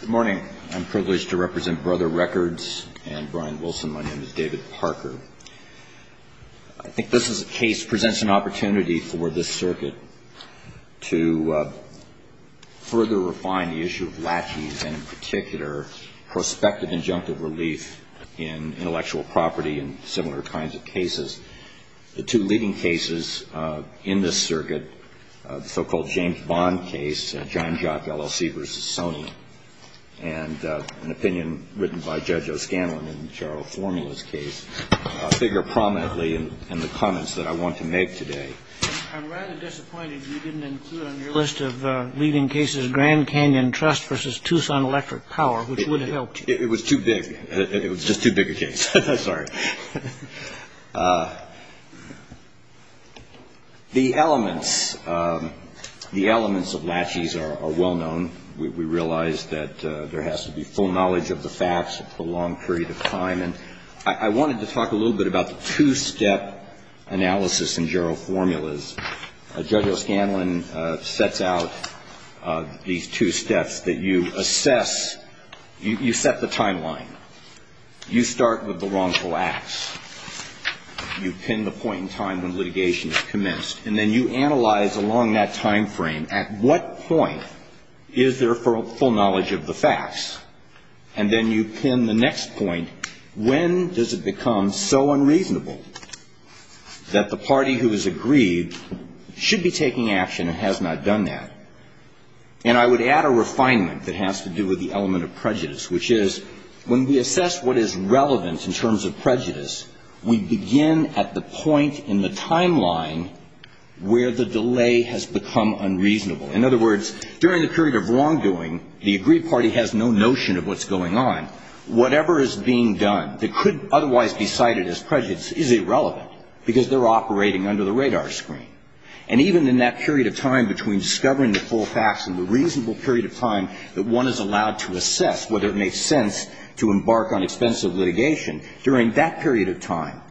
Good morning. I'm privileged to represent Brother Records, and Brian Wilson. My name is David Parker. I think this is a case that presents an opportunity for the circuit to further refine the issue of latchies and, in particular, prospective injunctive relief in intellectual property and similar kinds of cases. The two leading cases in this circuit, the so-called James Bond case, John Jock, LLC versus Sony, and an opinion written by Judge O'Scanlan in Gerald Formula's case, figure prominently in the comments that I want to make today. I'm rather disappointed you didn't include on your list of leading cases Grand Canyon Trust versus Tucson Electric Power, which would have helped. It was too big. It was just too big a case. Sorry. The elements of latchies are well known. We realize that there has to be full knowledge of the facts for a long period of time. And I wanted to talk a little bit about the two-step analysis in Gerald Formula's. Judge O'Scanlan sets out these two steps that you assess. You set the timeline. You start with the wrongful acts. You pin the point in time when litigation is commenced. And then you analyze along that time frame at what point is there full knowledge of the facts. And then you pin the next point. When does it become so unreasonable that the party who has agreed should be taking action and has not done that? And I would add a refinement that has to do with the element of prejudice, which is when we assess what is relevant in terms of prejudice, we begin at the point in the timeline where the delay has become unreasonable. In other words, during the period of wrongdoing, the agreed party has no notion of what's going on. Whatever is being done that could otherwise be cited as prejudice is irrelevant because they're operating under the radar screen. And even in that period of time between discovering the full facts and the reasonable period of time that one is allowed to assess whether it makes sense to embark on expensive litigation, during that period of time,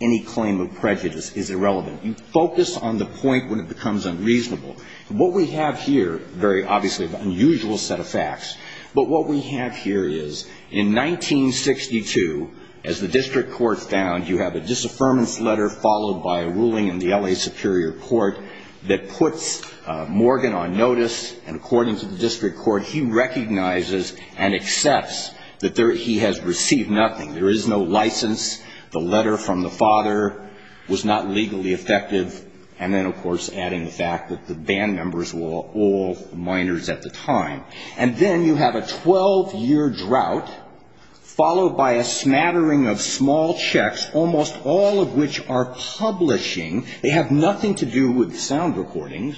any claim of prejudice is irrelevant. You focus on the point when it becomes unreasonable. What we have here, very obviously an unusual set of facts, but what we have here is in 1962, as the district court found, you have a disaffirmance letter followed by a ruling in the L.A. Superior Court that puts Morgan on notice. And according to the district court, he recognizes and accepts that he has received nothing. There is no license. The letter from the father was not legally effective. And then, of course, adding the fact that the band members were all minors at the time. And then you have a 12-year drought followed by a smattering of small checks, almost all of which are publishing. They have nothing to do with sound recordings.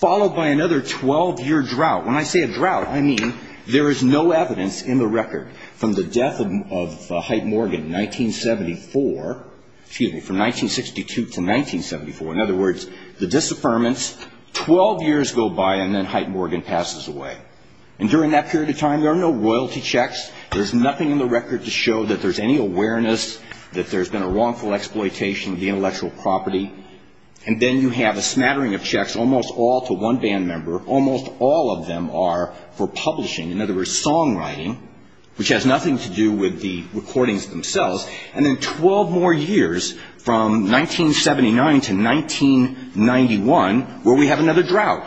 Followed by another 12-year drought. When I say a drought, I mean there is no evidence in the record from the death of Hyte Morgan in 1974, excuse me, from 1962 to 1974. In other words, the disaffirmance, 12 years go by and then Hyte Morgan passes away. And during that period of time, there are no royalty checks. There's nothing in the record to show that there's any awareness that there's been a wrongful exploitation of the intellectual property. And then you have a smattering of checks, almost all to one band member. Almost all of them are for publishing. In other words, songwriting, which has nothing to do with the recordings themselves. And then 12 more years, from 1979 to 1991, where we have another drought.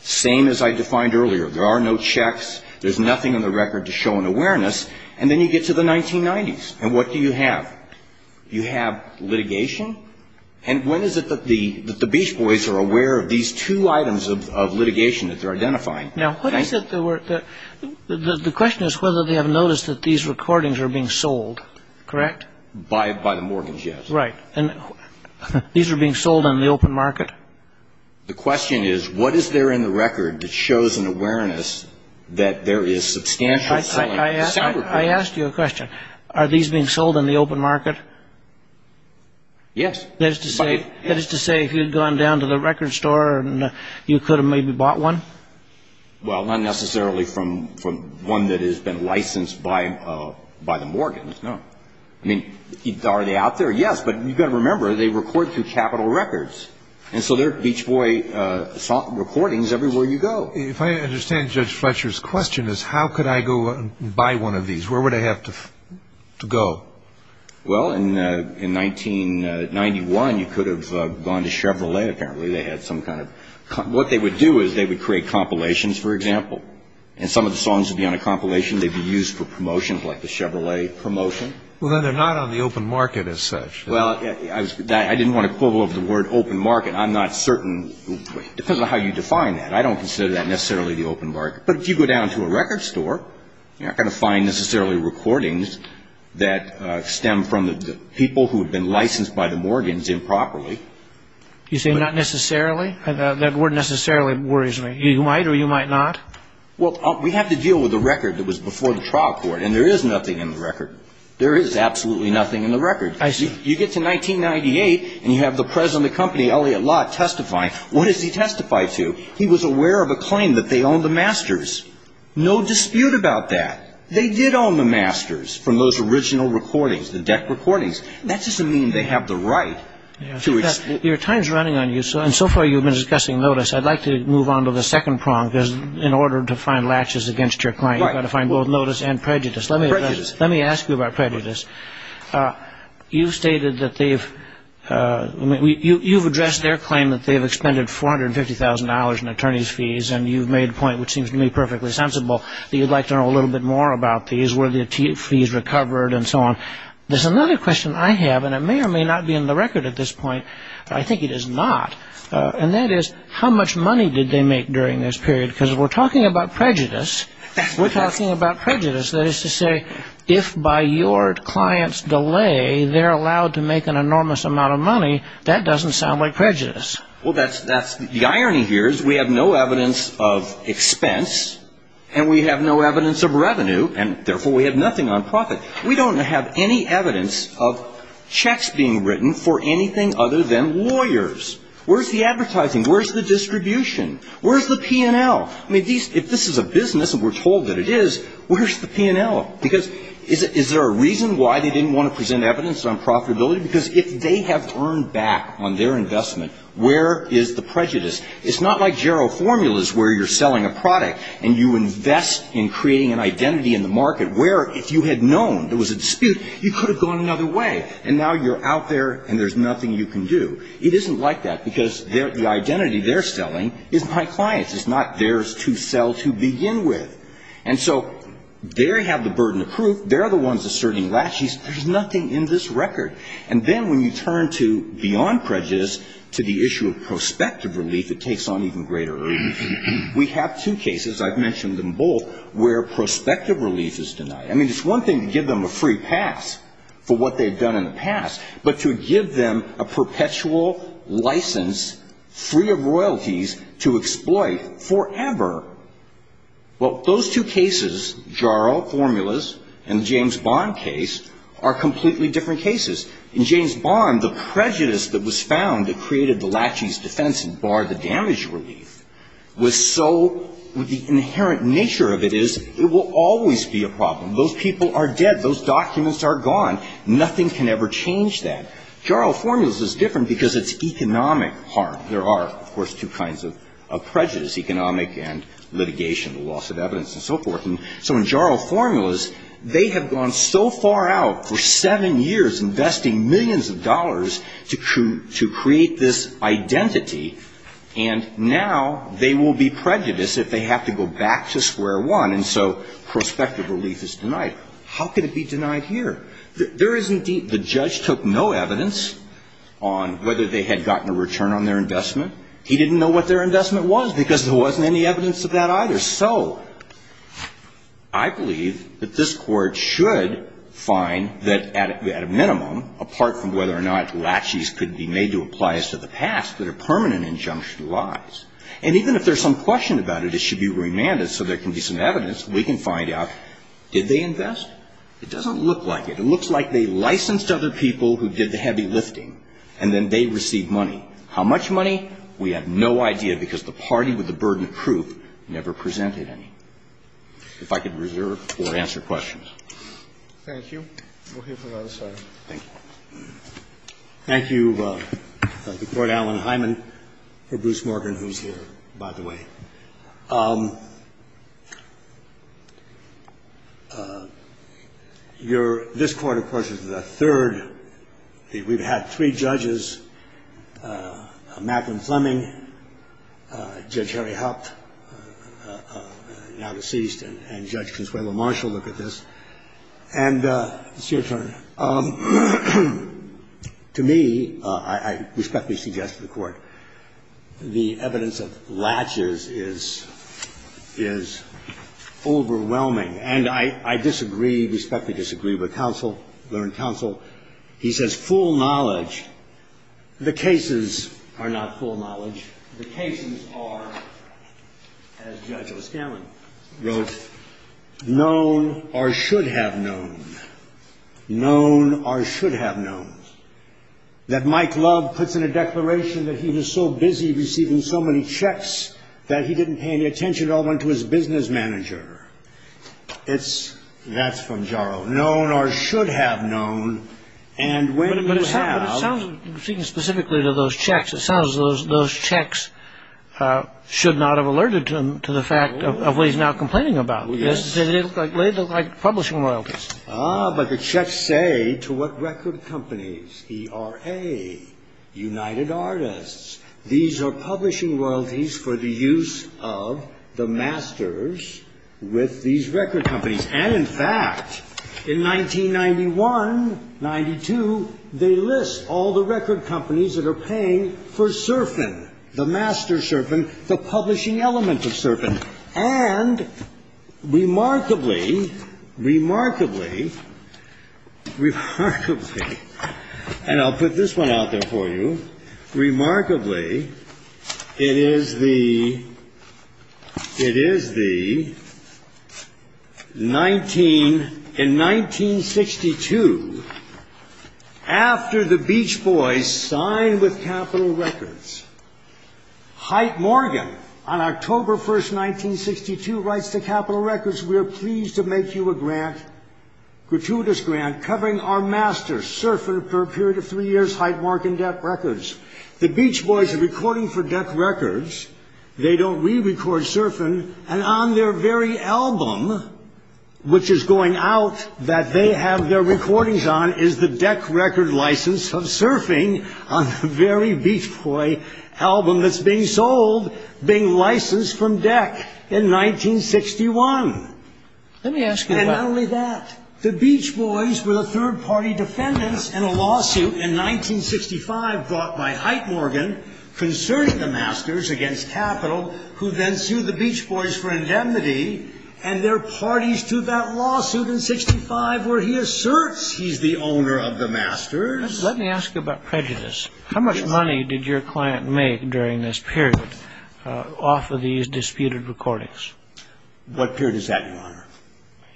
Same as I defined earlier. There are no checks. There's nothing in the record to show an awareness. And then you get to the 1990s. And what do you have? You have litigation. And when is it that the Beach Boys are aware of these two items of litigation that they're identifying? The question is whether they have noticed that these recordings are being sold. Correct? By the Morgans, yes. Right. And these are being sold in the open market. The question is, what is there in the record that shows an awareness that there is substantial selling? I asked you a question. Are these being sold in the open market? Yes. That is to say, if you had gone down to the record store and you could have maybe bought one? Well, not necessarily from one that has been licensed by the Morgans, no. I mean, are they out there? Yes, but you've got to remember, they record through Capitol Records. And so there are Beach Boy recordings everywhere you go. If I understand Judge Fletcher's question, is how could I go and buy one of these? Where would I have to go? Well, in 1991, you could have gone to Chevrolet, apparently. They had some kind of – what they would do is they would create compilations, for example. And some of the songs would be on a compilation. They'd be used for promotions like the Chevrolet promotion. Well, then they're not on the open market as such. Well, I didn't want to pull over the word open market. I'm not certain. It depends on how you define that. I don't consider that necessarily the open market. But if you go down to a record store, you're not going to find necessarily recordings that stem from the people who have been licensed by the Morgans improperly. You say not necessarily? That word necessarily worries me. You might or you might not? Well, we have to deal with a record that was before the trial court. And there is nothing in the record. There is absolutely nothing in the record. You get to 1998, and you have the president of the company, Elliot Lott, testifying. What does he testify to? He was aware of a claim that they owned the masters. No dispute about that. They did own the masters from those original recordings, the deck recordings. That doesn't mean they have the right to explain. Your time is running on you, and so far you've been discussing notice. I'd like to move on to the second prong, because in order to find latches against your client, you've got to find both notice and prejudice. Let me ask you about prejudice. You've stated that they've ‑‑ you've addressed their claim that they've expended $450,000 in attorney's fees, and you've made a point, which seems to me perfectly sensible, that you'd like to know a little bit more about these. Were the fees recovered and so on? There's another question I have, and it may or may not be in the record at this point, but I think it is not, and that is how much money did they make during this period? Because we're talking about prejudice. We're talking about prejudice. That is to say, if by your client's delay they're allowed to make an enormous amount of money, that doesn't sound like prejudice. Well, the irony here is we have no evidence of expense, and we have no evidence of revenue, and therefore we have nothing on profit. We don't have any evidence of checks being written for anything other than lawyers. Where's the advertising? Where's the distribution? Where's the P&L? I mean, if this is a business, and we're told that it is, where's the P&L? Because is there a reason why they didn't want to present evidence on profitability? Because if they have earned back on their investment, where is the prejudice? It's not like Jarrow Formulas where you're selling a product, and you invest in creating an identity in the market where if you had known there was a dispute, you could have gone another way, and now you're out there and there's nothing you can do. It isn't like that, because the identity they're selling is my client's. It's not theirs to sell to begin with. And so they have the burden of proof. They're the ones asserting laches. There's nothing in this record. And then when you turn to beyond prejudice, to the issue of prospective relief, it takes on even greater urgency. We have two cases, I've mentioned them both, where prospective relief is denied. I mean, it's one thing to give them a free pass for what they've done in the past, but to give them a perpetual license, free of royalties, to exploit forever. Well, those two cases, Jarrow Formulas and the James Bond case, are completely different cases. In James Bond, the prejudice that was found that created the laches defense and barred the damage relief, was so, the inherent nature of it is, it will always be a problem. Those people are dead. Those documents are gone. Nothing can ever change that. Jarrow Formulas is different because it's economic harm. There are, of course, two kinds of prejudice, economic and litigation, the loss of evidence and so forth. And so in Jarrow Formulas, they have gone so far out for seven years investing millions of dollars to create this identity, and now they will be prejudiced if they have to go back to square one. And so prospective relief is denied. How could it be denied here? There is indeed, the judge took no evidence on whether they had gotten a return on their investment. He didn't know what their investment was because there wasn't any evidence of that either. So I believe that this Court should find that at a minimum, apart from whether or not laches could be made to apply as to the past, that a permanent injunction lies. And even if there's some question about it, it should be remanded so there can be some evidence, and we can find out, did they invest? It doesn't look like it. It looks like they licensed other people who did the heavy lifting, and then they received money. How much money? We have no idea because the party with the burden of proof never presented any. If I could reserve or answer questions. Thank you. We'll hear from the other side. Thank you. Thank you, Court Allen Hyman, for Bruce Morgan, who's here, by the way. You're — this Court, of course, is the third. We've had three judges, Macklin Fleming, Judge Harry Hupt, now deceased, and Judge Consuelo Marshall look at this. And it's your turn. To me, I respectfully suggest to the Court, the evidence of laches is — is overwhelming. And I disagree, respectfully disagree with counsel, learned counsel. He says full knowledge. The cases are not full knowledge. The cases are, as Judge O'Scallion wrote, known or should have known. Known or should have known. That Mike Love puts in a declaration that he was so busy receiving so many checks that he didn't pay any attention at all to his business manager. It's — that's from Jarrow. Known or should have known. And when you have — should not have alerted him to the fact of what he's now complaining about. Yes. They look like publishing royalties. Ah, but the checks say to what record companies. ERA, United Artists. These are publishing royalties for the use of the masters with these record companies. And in fact, in 1991, 92, they list all the record companies that are paying for Serfin, the master Serfin, the publishing element of Serfin. And remarkably, remarkably, remarkably — and I'll put this one out there for you. Remarkably, it is the — it is the 19 — in 1962, after the Beach Boys signed with Capitol Records, Heit Morgan, on October 1, 1962, writes to Capitol Records, We're pleased to make you a grant, gratuitous grant, covering our master, Serfin, for a period of three years, Heit Morgan Deck Records. The Beach Boys are recording for Deck Records. They don't rerecord Serfin. And on their very album, which is going out, that they have their recordings on, is the Deck Record license of Serfin on the very Beach Boy album that's being sold, being licensed from Deck in 1961. Let me ask you about — And not only that, the Beach Boys were the third-party defendants in a lawsuit in 1965 brought by Heit Morgan concerning the masters against Capitol, who then sued the Beach Boys for indemnity, and their parties to that lawsuit in 1965, where he asserts he's the owner of the masters. Let me ask you about prejudice. How much money did your client make during this period off of these disputed recordings? What period is that, Your Honor?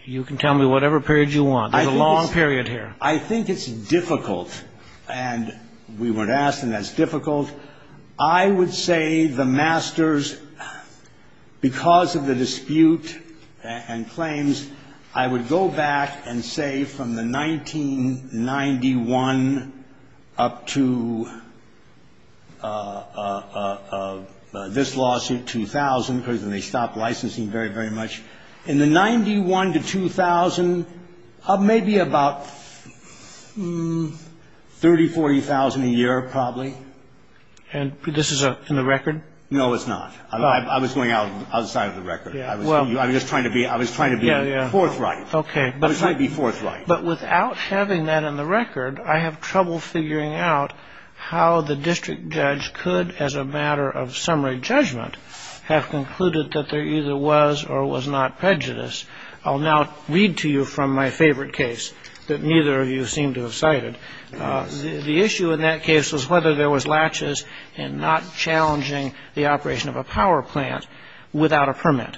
You can tell me whatever period you want. There's a long period here. I think it's difficult. And we were asked, and that's difficult. I would say the masters, because of the dispute and claims, I would go back and say from the 1991 up to this lawsuit, 2000, because then they stopped licensing very, very much. In the 91 to 2000, maybe about $30,000, $40,000 a year, probably. And this is in the record? No, it's not. I was going outside of the record. I was just trying to be forthright. I was trying to be forthright. But without having that in the record, I have trouble figuring out how the district judge could, as a matter of summary judgment, have concluded that there either was or was not prejudice. I'll now read to you from my favorite case that neither of you seem to have cited. The issue in that case was whether there was latches and not challenging the operation of a power plant without a permit.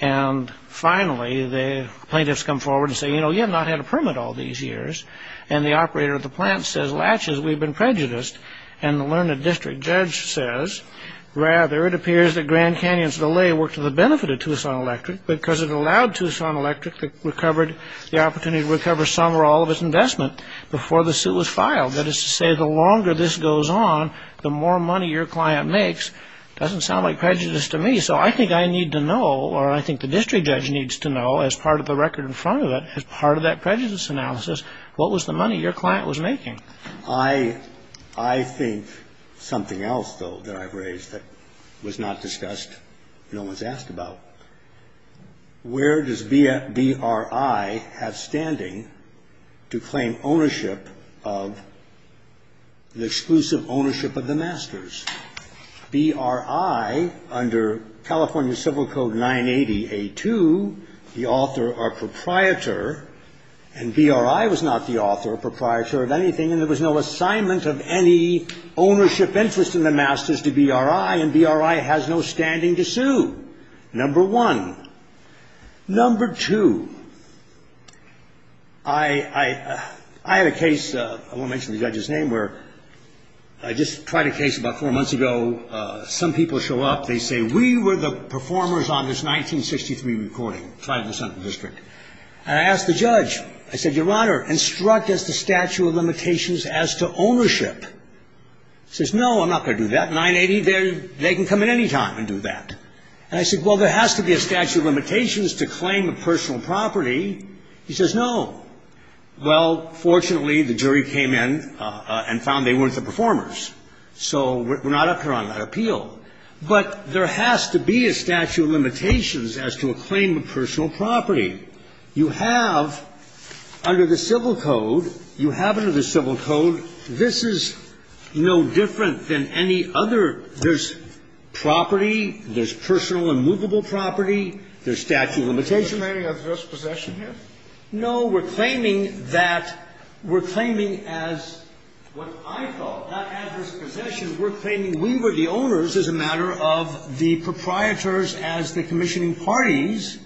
And finally, the plaintiffs come forward and say, you know, you have not had a permit all these years. And the operator of the plant says, latches, we've been prejudiced. And the learned district judge says, rather, it appears that Grand Canyon's delay worked to the benefit of Tucson Electric because it allowed Tucson Electric the opportunity to recover some or all of its investment before the suit was filed. That is to say, the longer this goes on, the more money your client makes doesn't sound like prejudice to me. So I think I need to know, or I think the district judge needs to know, as part of the record in front of it, as part of that prejudice analysis, what was the money your client was making? I think something else, though, that I've raised that was not discussed, no one's asked about. Where does BRI have standing to claim ownership of the exclusive ownership of the masters? BRI, under California Civil Code 980A2, the author or proprietor, and BRI was not the author or proprietor of anything, and there was no assignment of any ownership interest in the masters to BRI, and BRI has no standing to sue, number one. Number two, I had a case, I won't mention the judge's name, where I just tried a case about four months ago. Some people show up. They say, we were the performers on this 1963 recording, tried in the Senate district, and I asked the judge. I said, Your Honor, instruct us the statute of limitations as to ownership. He says, no, I'm not going to do that. 980, they can come at any time and do that. And I said, well, there has to be a statute of limitations to claim a personal property. He says, no. Well, fortunately, the jury came in and found they weren't the performers, so we're not up here on that appeal. But there has to be a statute of limitations as to a claim of personal property. You have under the Civil Code, you have under the Civil Code, this is no different than any other. There's property. There's personal and movable property. There's statute of limitations. Scalia. Any adverse possession here? No. We're claiming that we're claiming as what I thought, not adverse possession. We're claiming we were the owners as a matter of the proprietors as the commissioning parties.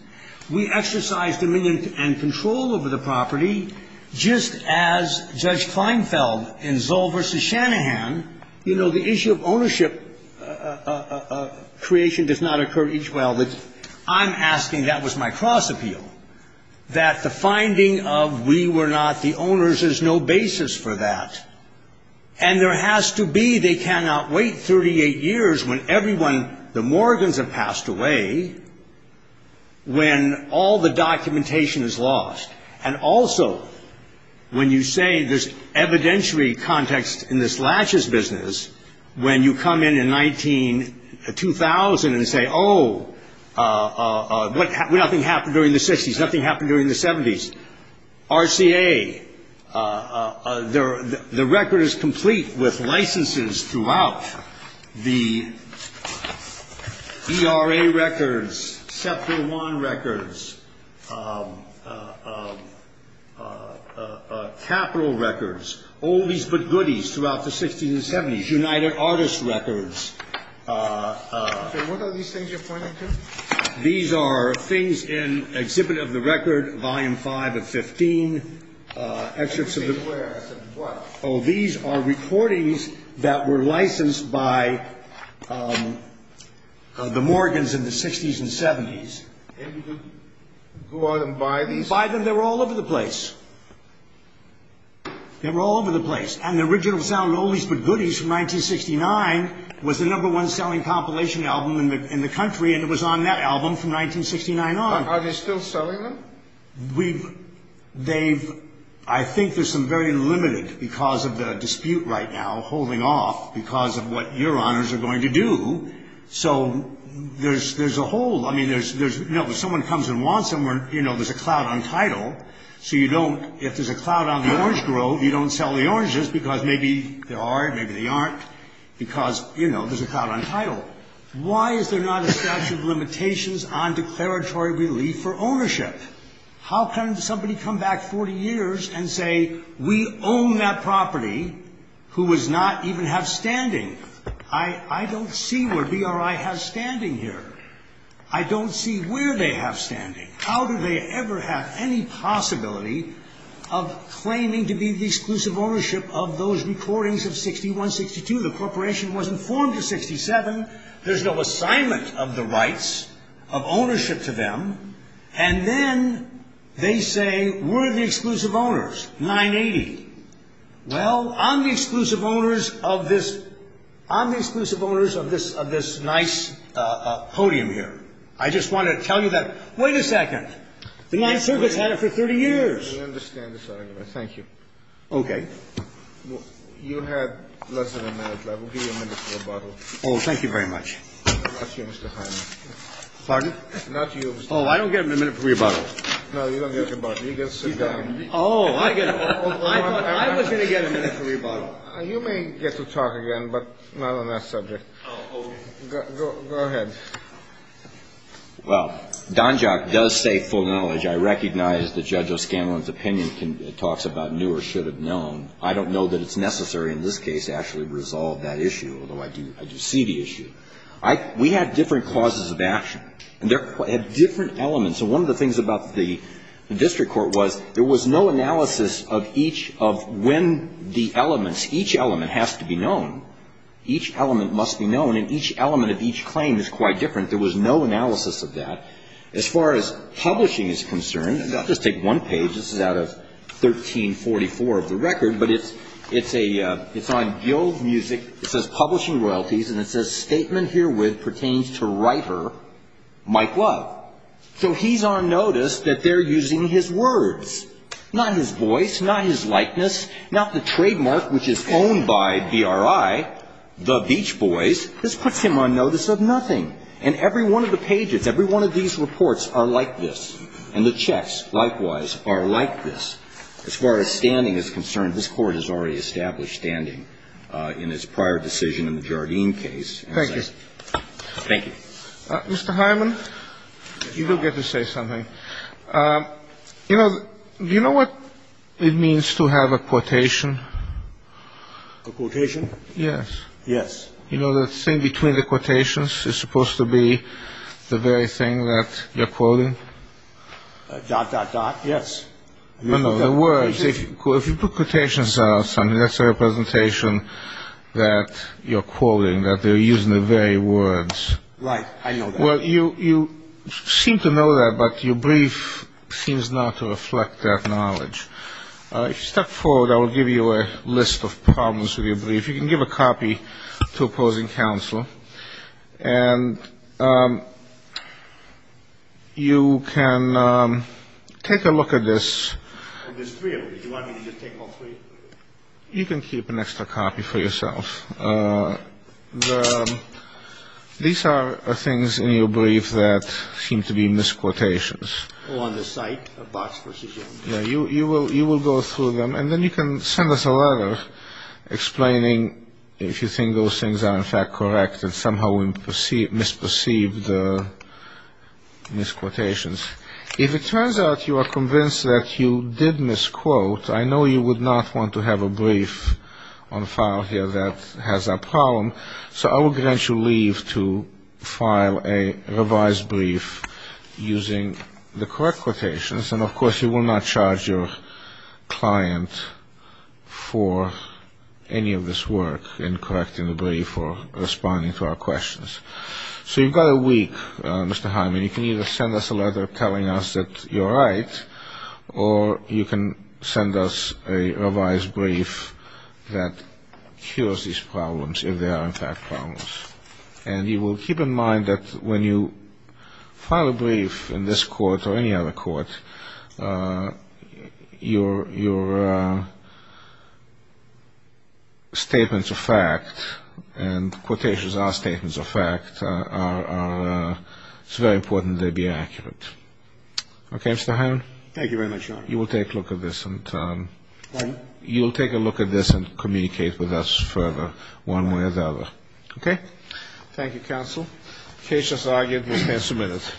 We exercised dominion and control over the property, just as Judge Kleinfeld in Zoll v. Shanahan, you know, the issue of ownership creation does not occur each well. I'm asking, that was my cross appeal, that the finding of we were not the owners, there's no basis for that. And there has to be, they cannot wait 38 years when everyone, the Morgans have passed away, when all the documentation is lost. And also, when you say there's evidentiary context in this latches business, when you come in in 2000 and say, oh, nothing happened during the 60s, nothing happened during the 70s. RCA, the record is complete with licenses throughout the ERA records, SEPTA I records, Capitol records, all these good goodies throughout the 60s and 70s, United Artists records. What are these things you're pointing to? These are things in Exhibit of the Record, Volume 5 of 15. These are recordings that were licensed by the Morgans in the 60s and 70s. And you could go out and buy these? Buy them, they were all over the place. They were all over the place. And the original sound of all these good goodies from 1969 was the number one selling compilation album in the country, and it was on that album from 1969 on. Are they still selling them? We've, they've, I think there's some very limited because of the dispute right now, holding off because of what your honors are going to do. So there's a whole, I mean, there's, you know, if someone comes and wants them, you know, there's a cloud on title, so you don't, if there's a cloud on the orange grove, you don't sell the oranges because maybe they are, maybe they aren't, because, you know, there's a cloud on title. Why is there not a statute of limitations on declaratory relief for ownership? How can somebody come back 40 years and say, we own that property who was not even have standing? I don't see where BRI has standing here. I don't see where they have standing. How do they ever have any possibility of claiming to be the exclusive ownership of those recordings of 61, 62? The corporation wasn't formed in 67. There's no assignment of the rights of ownership to them. And then they say, we're the exclusive owners, 980. Well, I'm the exclusive owners of this, I'm the exclusive owners of this, of this nice podium here. I just wanted to tell you that. Wait a second. The Ninth Circuit's had it for 30 years. I understand this argument. Thank you. Okay. You have less than a minute left. We'll give you a minute for a bottle. Oh, thank you very much. Not you, Mr. Hyman. Pardon? Not you, Mr. Hyman. Oh, I don't get a minute for your bottle. No, you don't get your bottle. You get to sit down. Oh, I get it. I thought I was going to get a minute for your bottle. You may get to talk again, but not on that subject. Oh, okay. Go ahead. Well, Donjock does say full knowledge. I recognize that Judge O'Scanlan's opinion talks about knew or should have known. I don't know that it's necessary in this case to actually resolve that issue, although I do see the issue. We had different clauses of action, and they had different elements. And so one of the things about the district court was there was no analysis of each of when the elements, each element has to be known. Each element must be known, and each element of each claim is quite different. There was no analysis of that. As far as publishing is concerned, and I'll just take one page. This is out of 1344 of the record, but it's on Guild Music. It says publishing royalties, and it says statement herewith pertains to writer Mike Love. So he's on notice that they're using his words, not his voice, not his likeness, not the trademark which is owned by BRI, the Beach Boys. This puts him on notice of nothing. And every one of the pages, every one of these reports are like this. And the checks, likewise, are like this. As far as standing is concerned, this Court has already established standing in its prior decision in the Jardine case. Thank you. Mr. Hyman, you do get to say something. You know, do you know what it means to have a quotation? A quotation? Yes. Yes. You know, the thing between the quotations is supposed to be the very thing that you're quoting? Dot, dot, dot, yes. No, no, the words. If you put quotations on something, that's a representation that you're quoting, that they're using the very words. Right, I know that. Well, you seem to know that, but your brief seems not to reflect that knowledge. If you step forward, I will give you a list of problems with your brief. You can give a copy to opposing counsel. And you can take a look at this. There's three of them. Do you want me to just take all three? You can keep an extra copy for yourself. These are things in your brief that seem to be misquotations. Oh, on the site of Box v. Jones? Yeah, you will go through them. And then you can send us a letter explaining if you think those things are in fact correct and somehow we misperceived the misquotations. If it turns out you are convinced that you did misquote, I know you would not want to have a brief on file here that has that problem, so I will grant you leave to file a revised brief using the correct quotations. And, of course, you will not charge your client for any of this work in correcting the brief or responding to our questions. So you've got a week, Mr. Hyman. You can either send us a letter telling us that you're right or you can send us a revised brief that cures these problems if they are in fact problems. And you will keep in mind that when you file a brief in this court or any other court, your statements of fact and quotations are statements of fact. It's very important they be accurate. Okay, Mr. Hyman? Thank you very much, Your Honor. You will take a look at this and communicate with us further one way or the other. Okay? Thank you, counsel. The case is argued. Mr. Hyman, submit it.